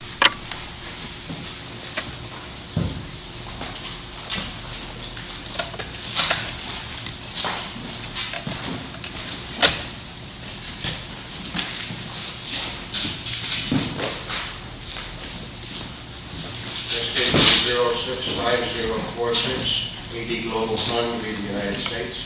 This is the 065046 AD Global Fund v. United States. Good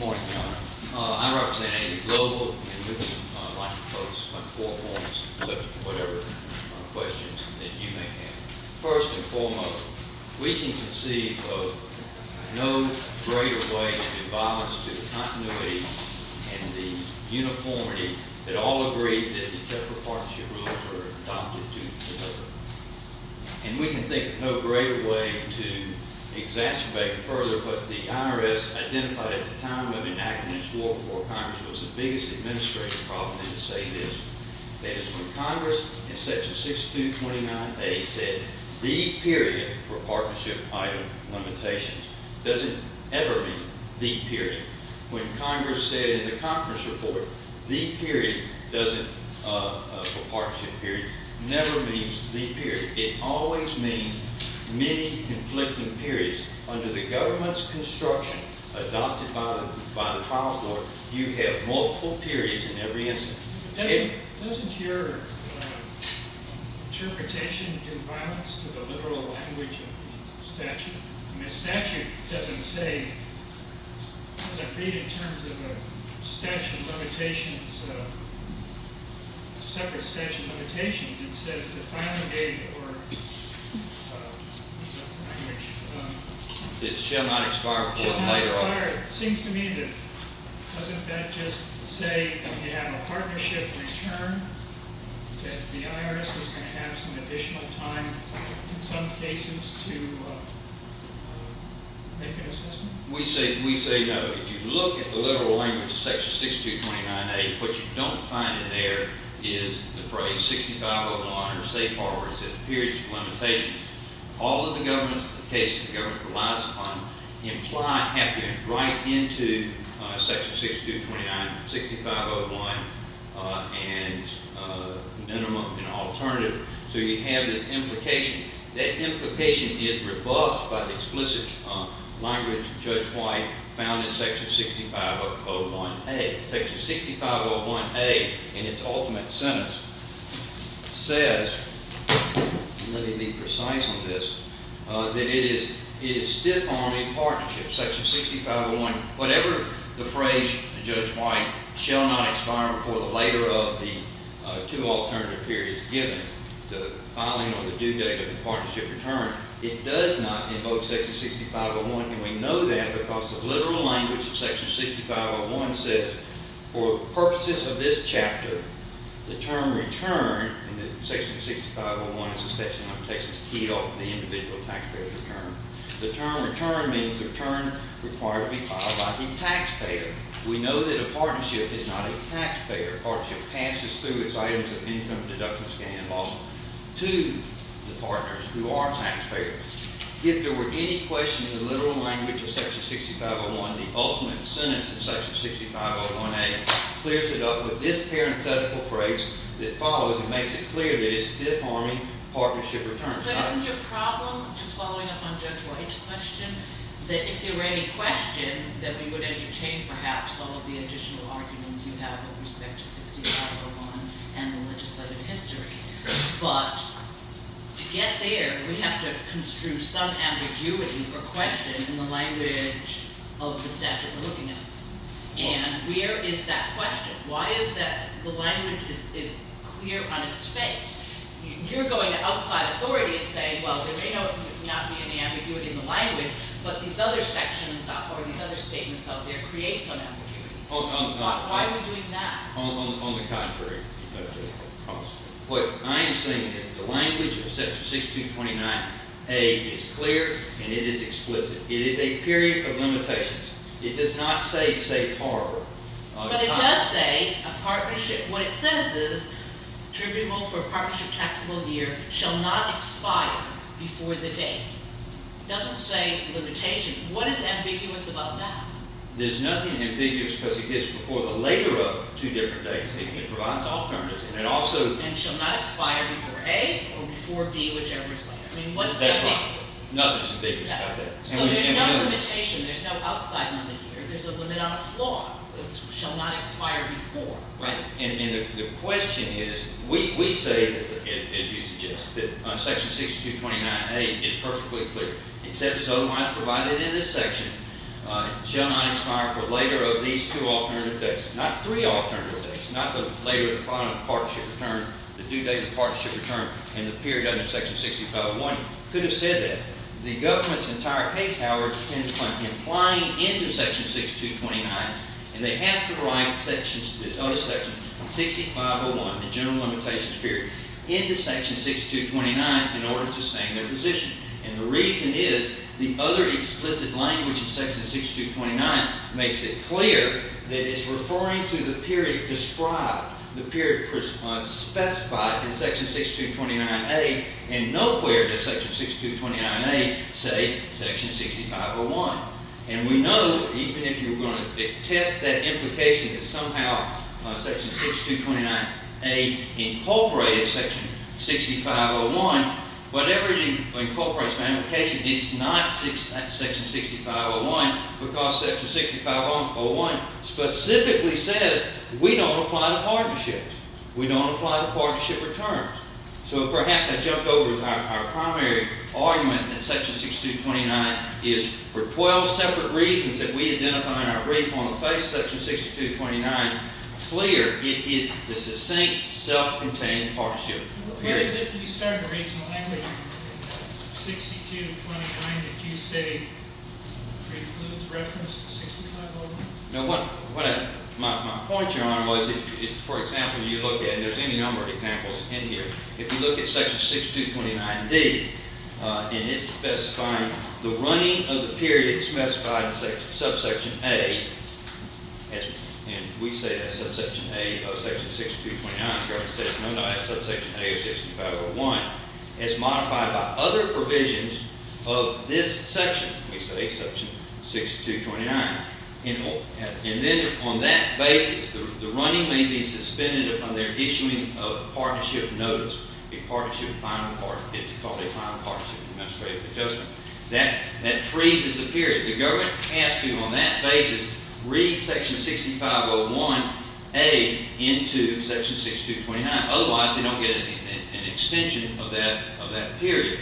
morning, Your Honor. I represent AD Global, and I'd like to pose four points, subject to whatever questions that you may have. First and foremost, we can conceive of no greater way than in violence to the continuity and the uniformity that all agree that the separate partnership rules are adopted to deliver. And we can think of no greater way to exacerbate it further, but the IRS identified at the time of enacting its war for Congress was the biggest administrative problem in the state is, that is, when Congress in section 6229A said, the period for partnership item limitations doesn't ever mean the period. When Congress said in the Congress report, the period for partnership period never means the period. It always means many conflicting periods. Under the government's construction, adopted by the trial court, you have multiple periods in every instance. Doesn't your interpretation do violence to the literal language of statute? I mean, statute doesn't say, as I read in terms of a statute of limitations, separate statute of limitations, it says the final date or language. It shall not expire before the later order. It seems to me that doesn't that just say if you have a partnership return, that the IRS is going to have some additional time in some cases to make an assessment? We say no. If you look at the literal language of section 6229A, what you don't find in there is the phrase 6501, or say forward, says periods of limitations. All of the cases the government relies upon have to write into section 6229, 6501, and minimum and alternative. So you have this implication. That implication is rebuffed by the explicit language of Judge White found in section 6501A. Section 6501A, in its ultimate sentence, says, let me be precise on this, that it is stiff on a partnership. Section 6501, whatever the phrase Judge White shall not expire before the later of the two alternative periods given, the filing or the due date of the partnership return, it does not invoke section 6501, and we know that because the literal language of section 6501 says, for purposes of this chapter, the term return, and section 6501 is a section that takes its key off the individual taxpayer's return. The term return means return required to be filed by the taxpayer. We know that a partnership is not a taxpayer. A partnership passes through its items of income, deductions, gain, and loss to the partners who are taxpayers. If there were any question in the literal language of section 6501, the ultimate sentence in section 6501A clears it up with this parenthetical phrase that follows and makes it clear that it's stiff on a partnership return. But isn't your problem, just following up on Judge White's question, that if there were any question, that we would entertain perhaps some of the additional arguments you have with respect to 6501 and the legislative history. But to get there, we have to construe some ambiguity or question in the language of the statute we're looking at. And where is that question? Why is that the language is clear on its face? You're going to outside authority and say, well, there may not be any ambiguity in the language, but these other sections or these other statements out there create some ambiguity. Why are we doing that? On the contrary, Judge White. What I am saying is the language of section 6229A is clear and it is explicit. It is a period of limitations. It does not say safe harbor. But it does say a partnership. What it says is tribunal for partnership taxable year shall not expire before the date. It doesn't say limitation. What is ambiguous about that? There's nothing ambiguous because it gets before the later of two different dates. It provides alternatives. And it also- And shall not expire before A or before B, whichever is later. That's right. Nothing is ambiguous about that. So there's no limitation. There's no outside limit here. There's a limit on the floor. It shall not expire before. Right. And the question is we say, as you suggested, that section 6229A is perfectly clear. It says it's otherwise provided in this section. It shall not expire for later of these two alternative dates. Not three alternative dates. Not the later part of the partnership term, the due date of the partnership term and the period under section 6501. It could have said that. The government's entire case, however, depends upon complying into section 6229, and they have to write this other section, 6501, the general limitations period, into section 6229 in order to sustain their position. And the reason is the other explicit language in section 6229 makes it clear that it's referring to the period described, the period specified in section 6229A, and nowhere does section 6229A say section 6501. And we know even if you were going to test that implication that somehow section 6229A incorporated section 6501, whatever it incorporates in that implication, it's not section 6501 because section 6501 specifically says we don't apply to partnerships. We don't apply to partnership returns. So perhaps I jumped over to our primary argument that section 6229 is, for 12 separate reasons that we identify in our brief on the face of section 6229, clear it is the succinct self-contained partnership period. What is it you said in the original language, 6229, that you say precludes reference to 6501? My point, Your Honor, was if, for example, you look at, and there's any number of examples in here, if you look at section 6229D and it's specifying the running of the period specified in subsection A, and we say that's subsection A of section 6229. The government says no, no, that's subsection A of section 6501. It's modified by other provisions of this section. We say section 6229. And then on that basis, the running may be suspended upon their issuing of partnership notice, a partnership final part, it's called a final partnership administrative adjustment. That freezes the period. The government has to, on that basis, read section 6501A into section 6229. Otherwise, they don't get an extension of that period.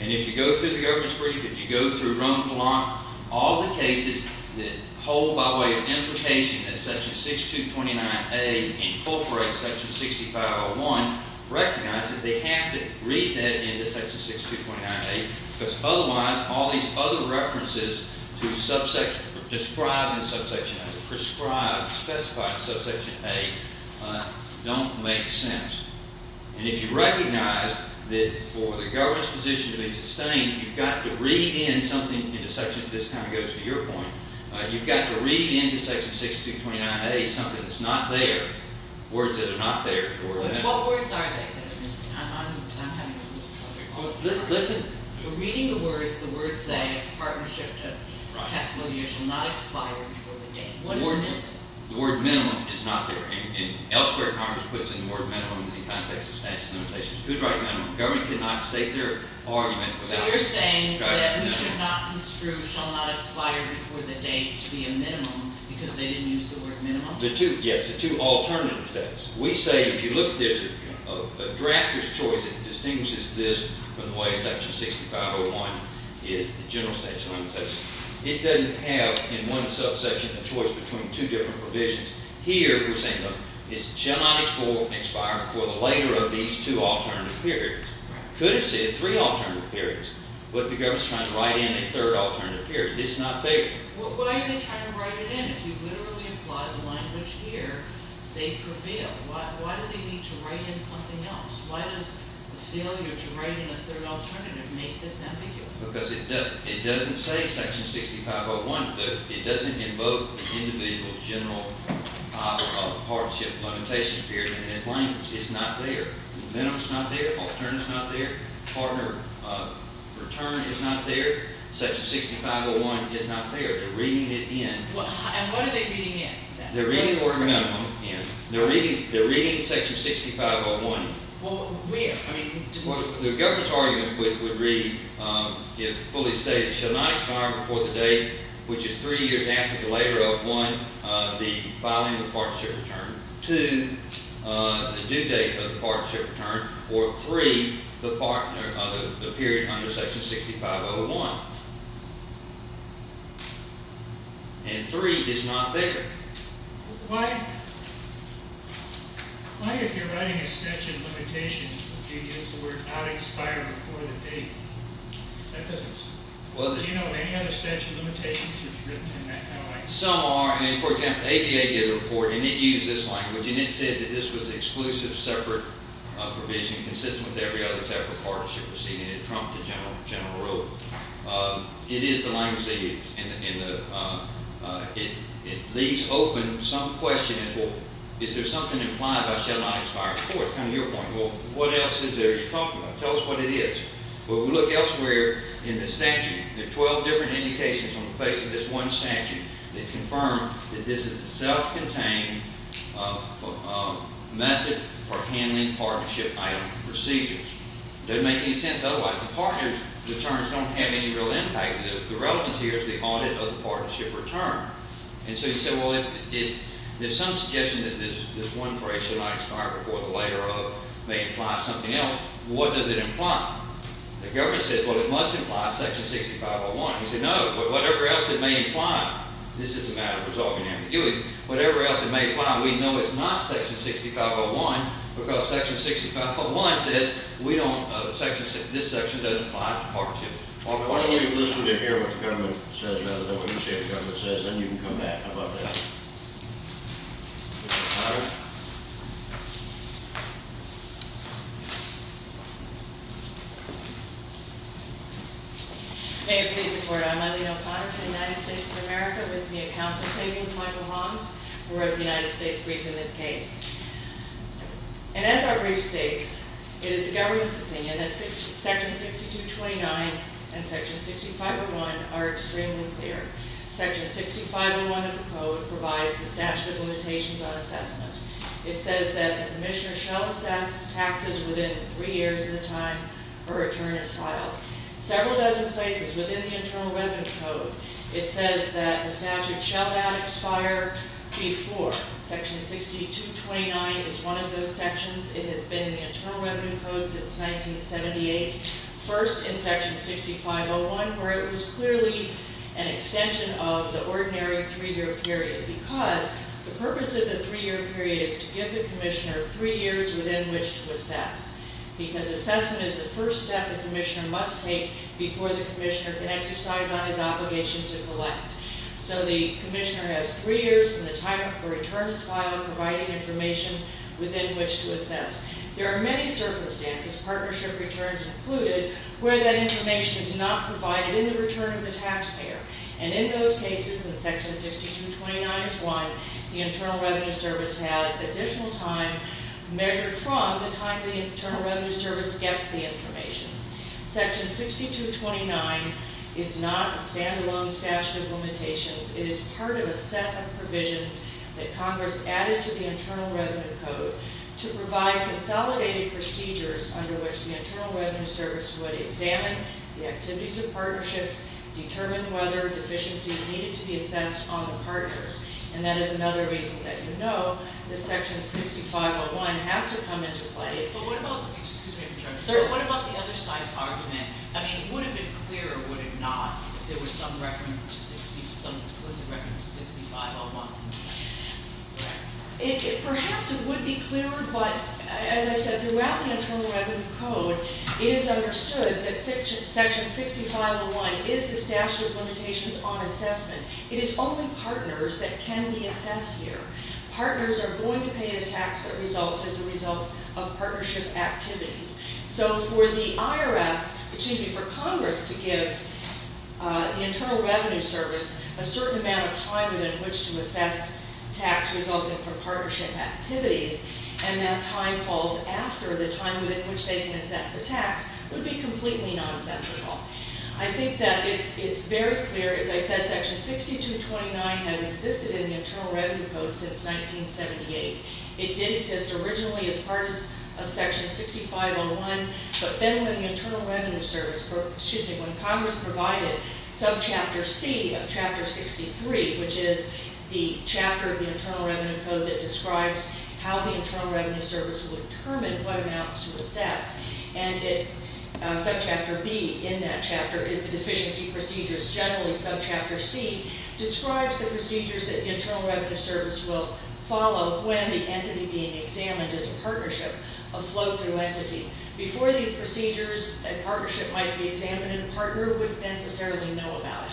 And if you go through the government's brief, if you go through Roanoke Law, all the cases that hold by way of implication that section 6229A incorporates section 6501, recognize that they have to read that into section 6229A because otherwise all these other references to subsection, describing subsection as prescribed, specified in subsection A, don't make sense. And if you recognize that for the government's position to be sustained, you've got to read in something into section, this kind of goes to your point, you've got to read into section 6229A something that's not there, words that are not there. What words are there? I'm having a little trouble here. Listen. Reading the words, the words say partnership taxable years shall not expire before the date. What is missing? The word minimum is not there. And elsewhere Congress puts in the word minimum in the context of statute of limitations. Who's writing that? The government cannot state their argument without… So you're saying that we should not construe shall not expire before the date to be a minimum because they didn't use the word minimum? The two, yes, the two alternative states. We say if you look at this, a drafter's choice, it distinguishes this from the way section 6501 is the general statute of limitations. It doesn't have in one subsection a choice between two different provisions. Here we're saying no, it shall not expire before the later of these two alternative periods. Could have said three alternative periods, but the government's trying to write in a third alternative period. It's not there. What are they trying to write it in? If you literally apply the language here, they prevail. Why do they need to write in something else? Why does the failure to write in a third alternative make this ambiguous? Because it doesn't say section 6501. It doesn't invoke the individual general partnership limitations period in this language. It's not there. Minimum's not there. Alternative's not there. Partner return is not there. Section 6501 is not there. They're reading it in. And what are they reading in? They're reading order minimum in. They're reading section 6501 in. Where? The government's argument would read, fully stated, shall not expire before the date which is three years after the later of, one, the filing of the partnership return, two, the due date of the partnership return, or three, the period under section 6501. And three is not there. Why, if you're writing a section limitation, do you use the word not expire before the date? Do you know of any other section limitations that's written in that kind of language? Some are. I mean, for example, ADA did a report, and it used this language, and it said that this was exclusive separate provision consistent with every other type of partnership proceeding. And it trumped the general rule. It is the language they use. And it leaves open some question as well. Is there something implied by shall not expire before? It's kind of your point. Well, what else is there to talk about? Tell us what it is. Well, we look elsewhere in the statute. There are 12 different indications on the face of this one statute that confirm that this is a self-contained method for handling partnership item procedures. It doesn't make any sense otherwise. The partners' returns don't have any real impact. The relevance here is the audit of the partnership return. And so you say, well, there's some suggestion that this one phrase, shall not expire before the later of, may imply something else. What does it imply? The government says, well, it must imply section 6501. You say, no, but whatever else it may imply. This is a matter of resolving ambiguity. Whatever else it may imply, we know it's not section 6501 because section 6501 says this section doesn't apply to Part 2. Why don't we listen and hear what the government says rather than what you say the government says, then you can come back about that. May it please the Court. I'm Eileen O'Connor from the United States of America with me at counsel tables, Michael Holmes, who wrote the United States Brief in this case. And as our brief states, it is the government's opinion that section 6229 and section 6501 are extremely clear. Section 6501 of the code provides the statute of limitations on assessment. It says that the commissioner shall assess taxes within three years of the time a return is filed. Several dozen places within the Internal Revenue Code, it says that the statute shall not expire before. Section 6229 is one of those sections. It has been in the Internal Revenue Code since 1978. First in section 6501 where it was clearly an extension of the ordinary three-year period because the purpose of the three-year period is to give the commissioner three years within which to assess because assessment is the first step the commissioner must take before the commissioner can exercise on his obligation to collect. So the commissioner has three years from the time a return is filed providing information within which to assess. There are many circumstances, partnership returns included, where that information is not provided in the return of the taxpayer. And in those cases, in section 6229 is one, the Internal Revenue Service has additional time measured from the time the Internal Revenue Service gets the information. Section 6229 is not a stand-alone statute of limitations. It is part of a set of provisions that Congress added to the Internal Revenue Code to provide consolidated procedures under which the Internal Revenue Service would examine the activities of partnerships, determine whether deficiencies needed to be assessed on the partners. And that is another reason that you know that section 6501 has to come into play. But what about the other side's argument? I mean, would it have been clear or would it not if there was some explicit reference to 6501? Perhaps it would be clearer, but as I said, throughout the Internal Revenue Code it is understood that section 6501 is the statute of limitations on assessment. It is only partners that can be assessed here. Partners are going to pay a tax that results as a result of partnership activities. So for the IRS, excuse me, for Congress to give the Internal Revenue Service a certain amount of time within which to assess tax resulting from partnership activities and that time falls after the time within which they can assess the tax would be completely nonsensical. I think that it's very clear, as I said, that section 6229 has existed in the Internal Revenue Code since 1978. It did exist originally as part of section 6501, but then when Congress provided subchapter C of chapter 63, which is the chapter of the Internal Revenue Code that describes how the Internal Revenue Service would determine what amounts to assess, and subchapter B in that chapter is the Deficiency Procedures. Generally, subchapter C describes the procedures that the Internal Revenue Service will follow when the entity being examined is a partnership, a flow-through entity. Before these procedures, a partnership might be examined and a partner wouldn't necessarily know about it.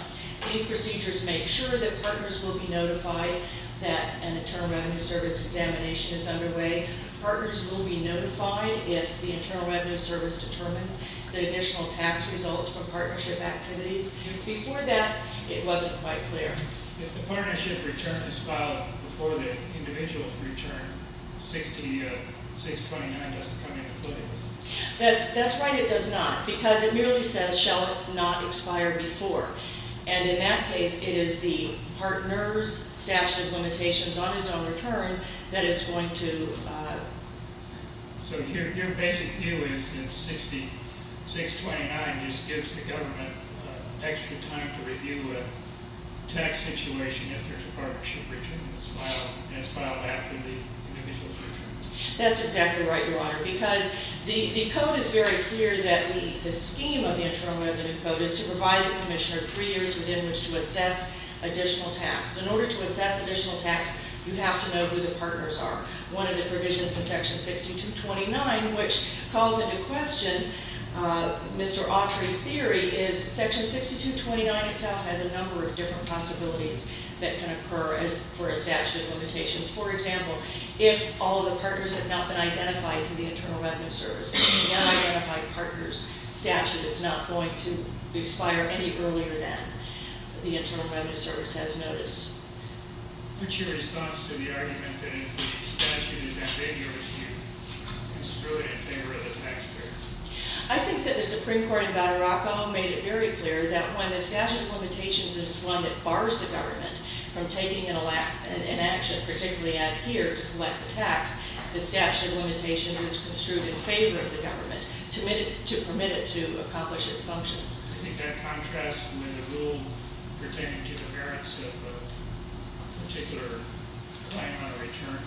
These procedures make sure that partners will be notified that an Internal Revenue Service examination is underway. Partners will be notified if the Internal Revenue Service determines that additional tax results from partnership activities. Before that, it wasn't quite clear. If the partnership return is filed before the individual's return, 6229 doesn't come into play. That's right, it does not, because it merely says, shall it not expire before, and in that case, it is the partner's statute of limitations on his own return that is going to... So your basic view is that 6229 just gives the government extra time to review a tax situation if there's a partnership return that's filed after the individual's return. That's exactly right, Your Honor, because the code is very clear that the scheme of the Internal Revenue Code is to provide the commissioner three years within which to assess additional tax. In order to assess additional tax, you have to know who the partners are. One of the provisions in section 6229, which calls into question Mr. Autry's theory, is section 6229 itself has a number of different possibilities that can occur for a statute of limitations. For example, if all of the partners have not been identified to the Internal Revenue Service, the unidentified partners statute is not going to expire any earlier than the Internal Revenue Service has noticed. What's your response to the argument that if the statute is not in your dispute, it's really in favor of the taxpayer? I think that the Supreme Court in Bataraco made it very clear that when the statute of limitations is one that bars the government from taking an action, particularly as here, to collect the tax, the statute of limitations is construed in favor of the government to permit it to accomplish its functions. I think that contrasts with the rule pertaining to the merits of a particular claim on a return.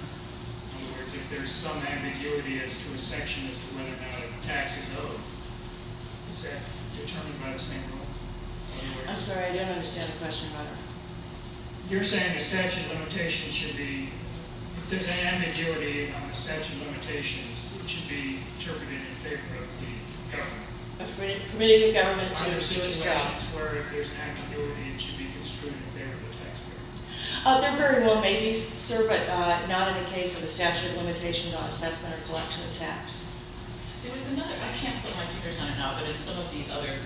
In other words, if there's some ambiguity as to a section as to whether or not a tax is owed, is that determined by the same rule? I'm sorry, I don't understand the question. You're saying the statute of limitations should be, if there's an ambiguity on the statute of limitations, it should be interpreted in favor of the government. Are there situations where if there's an ambiguity, it should be construed in favor of the taxpayer? There very well may be, sir, but not in the case of the statute of limitations on assessment or collection of tax. There was another, I can't put my fingers on it now, but in some of these other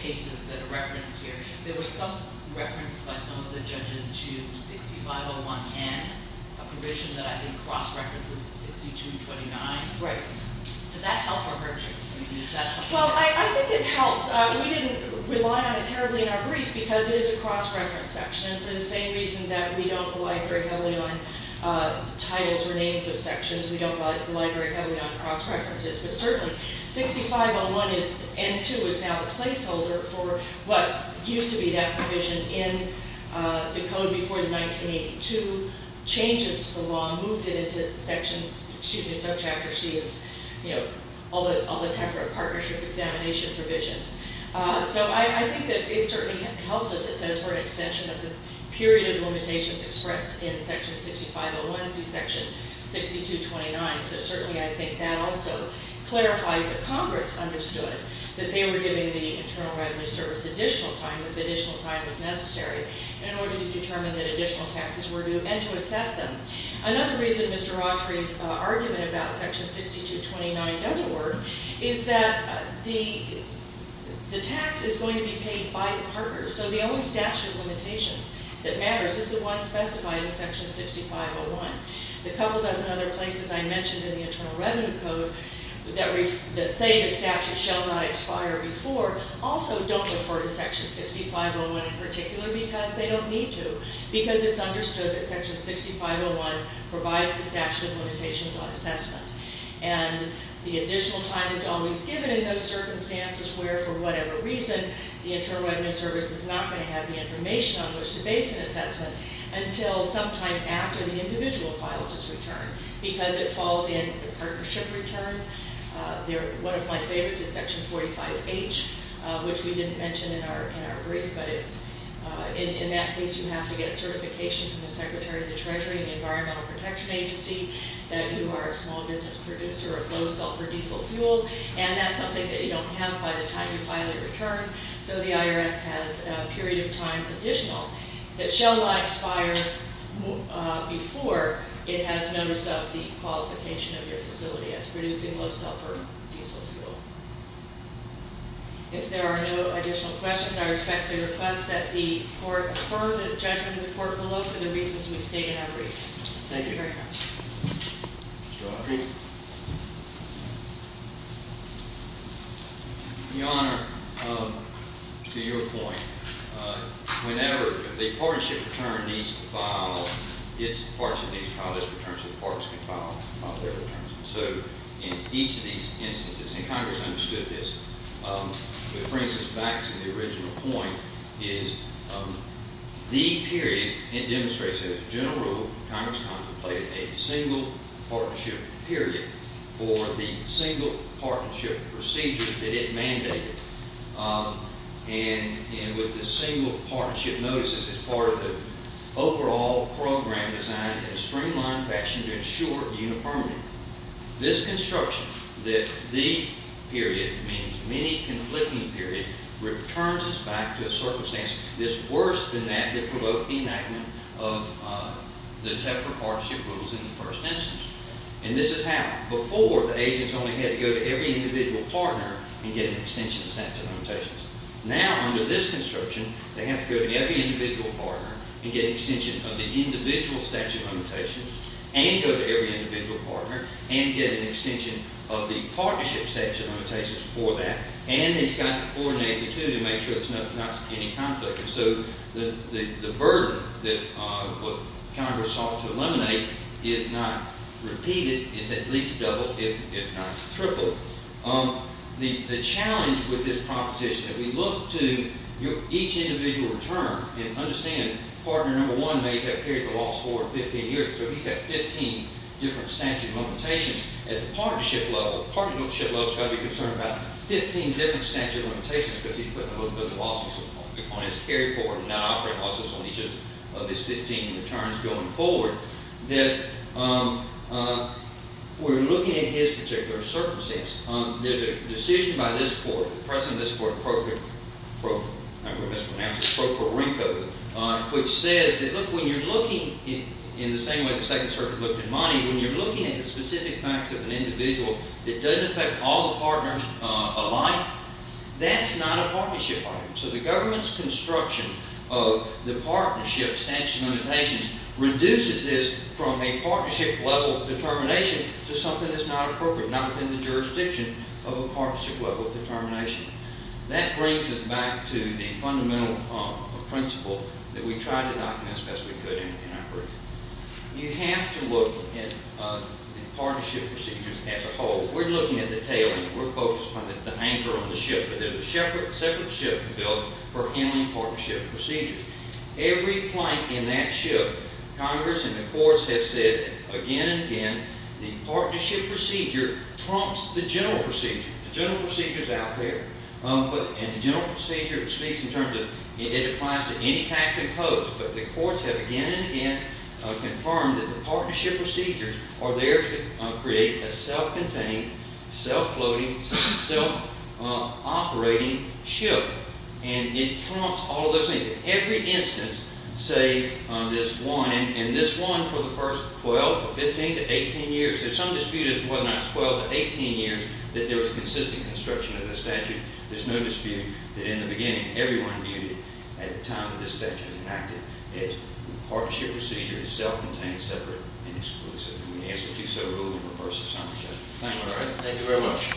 cases that are referenced here, there was some reference by some of the judges to 6501N, a provision that I think cross-references 6229. Right. Does that help or hurt you? Well, I think it helps. We didn't rely on it terribly in our brief because it is a cross-reference section for the same reason that we don't rely very heavily on titles or names of sections. We don't rely very heavily on cross-references, but certainly 6501N2 is now the placeholder for what used to be that provision in the code before the 1982 changes to the law, moved it into subchapter C of all the Tefra partnership examination provisions. So I think that it certainly helps us, it says, for an extension of the period of limitations expressed in section 6501C, section 6229. So certainly I think that also clarifies that Congress understood that they were giving the Internal Revenue Service additional time if additional time was necessary in order to determine that additional taxes were due and to assess them. Another reason Mr. Autry's argument about section 6229 doesn't work is that the tax is going to be paid by the partners, so the only statute of limitations that matters is the one specified in section 6501. The couple dozen other places I mentioned in the Internal Revenue Code that say the statute shall not expire before also don't refer to section 6501 in particular because they don't need to, because it's understood that section 6501 provides the statute of limitations on assessment. And the additional time is always given in those circumstances where, for whatever reason, the Internal Revenue Service is not going to have the information on which to base an assessment until sometime after the individual files its return, because it falls in the partnership return. One of my favorites is section 45H, which we didn't mention in our brief, but in that case you have to get certification from the Secretary of the Treasury and the Environmental Protection Agency that you are a small business producer of low-sulfur diesel fuel, and that's something that you don't have by the time you file a return, so the IRS has a period of time additional that shall not expire before it has notice of the qualification of your facility as producing low-sulfur diesel fuel. If there are no additional questions, I respectfully request that the court defer the judgment of the court below for the reasons we state in our brief. Thank you very much. Mr. Autry? Your Honor, to your point, whenever the partnership return needs to file, its partnership needs to file its return, so the partners can file their returns. So in each of these instances, and Congress understood this, which brings us back to the original point, is the period it demonstrates as a general rule Congress contemplated a single partnership period for the single partnership procedure that it mandated, and with the single partnership notices as part of the overall program designed in a streamlined fashion to ensure uniformity. This construction that the period means many conflicting periods returns us back to a circumstance that's worse than that that provoked the enactment of the TEFRA partnership rules in the first instance, and this is how. Before, the agents only had to go to every individual partner and get an extension of the statute of limitations. Now, under this construction, they have to go to every individual partner and get an extension of the individual statute of limitations and go to every individual partner and get an extension of the partnership statute of limitations for that, and they've got to coordinate the two to make sure there's not any conflict. And so the burden that Congress sought to eliminate is not repeated. It's at least doubled, if not tripled. The challenge with this proposition, if we look to each individual return and understand partner number one may have carried the loss for 15 years, so he's got 15 different statute of limitations. At the partnership level, the partnership level has got to be concerned about 15 different statute of limitations because he's putting a whole bunch of losses on his carry forward and not operating losses on each of his 15 returns going forward, that we're looking at his particular circumstances. There's a decision by this court, the president of this court, which says that when you're looking in the same way the Second Circuit looked at money, when you're looking at the specific facts of an individual that doesn't affect all the partners alike, that's not a partnership item. So the government's construction of the partnership statute of limitations reduces this from a partnership level determination to something that's not appropriate, or not within the jurisdiction of a partnership level determination. That brings us back to the fundamental principle that we tried to document as best we could in our brief. You have to look at partnership procedures as a whole. We're looking at the tail end. We're focused on the anchor on the ship, but there's a separate ship built for handling partnership procedures. Every plank in that ship, Congress and the courts have said again and again, the partnership procedure trumps the general procedure. The general procedure's out there, and the general procedure speaks in terms of it applies to any tax imposed, but the courts have again and again confirmed that the partnership procedures are there to create a self-contained, self-floating, self-operating ship, and it trumps all of those things. Every instance, say, on this one, and this one for the first 12 or 15 to 18 years, there's some dispute as to whether or not it's 12 to 18 years that there was consistent construction of the statute. There's no dispute that in the beginning, everyone viewed it at the time that this statute was enacted as the partnership procedure is self-contained, separate, and exclusive. And we ask that you so rule in reverse of some of those. Thank you very much.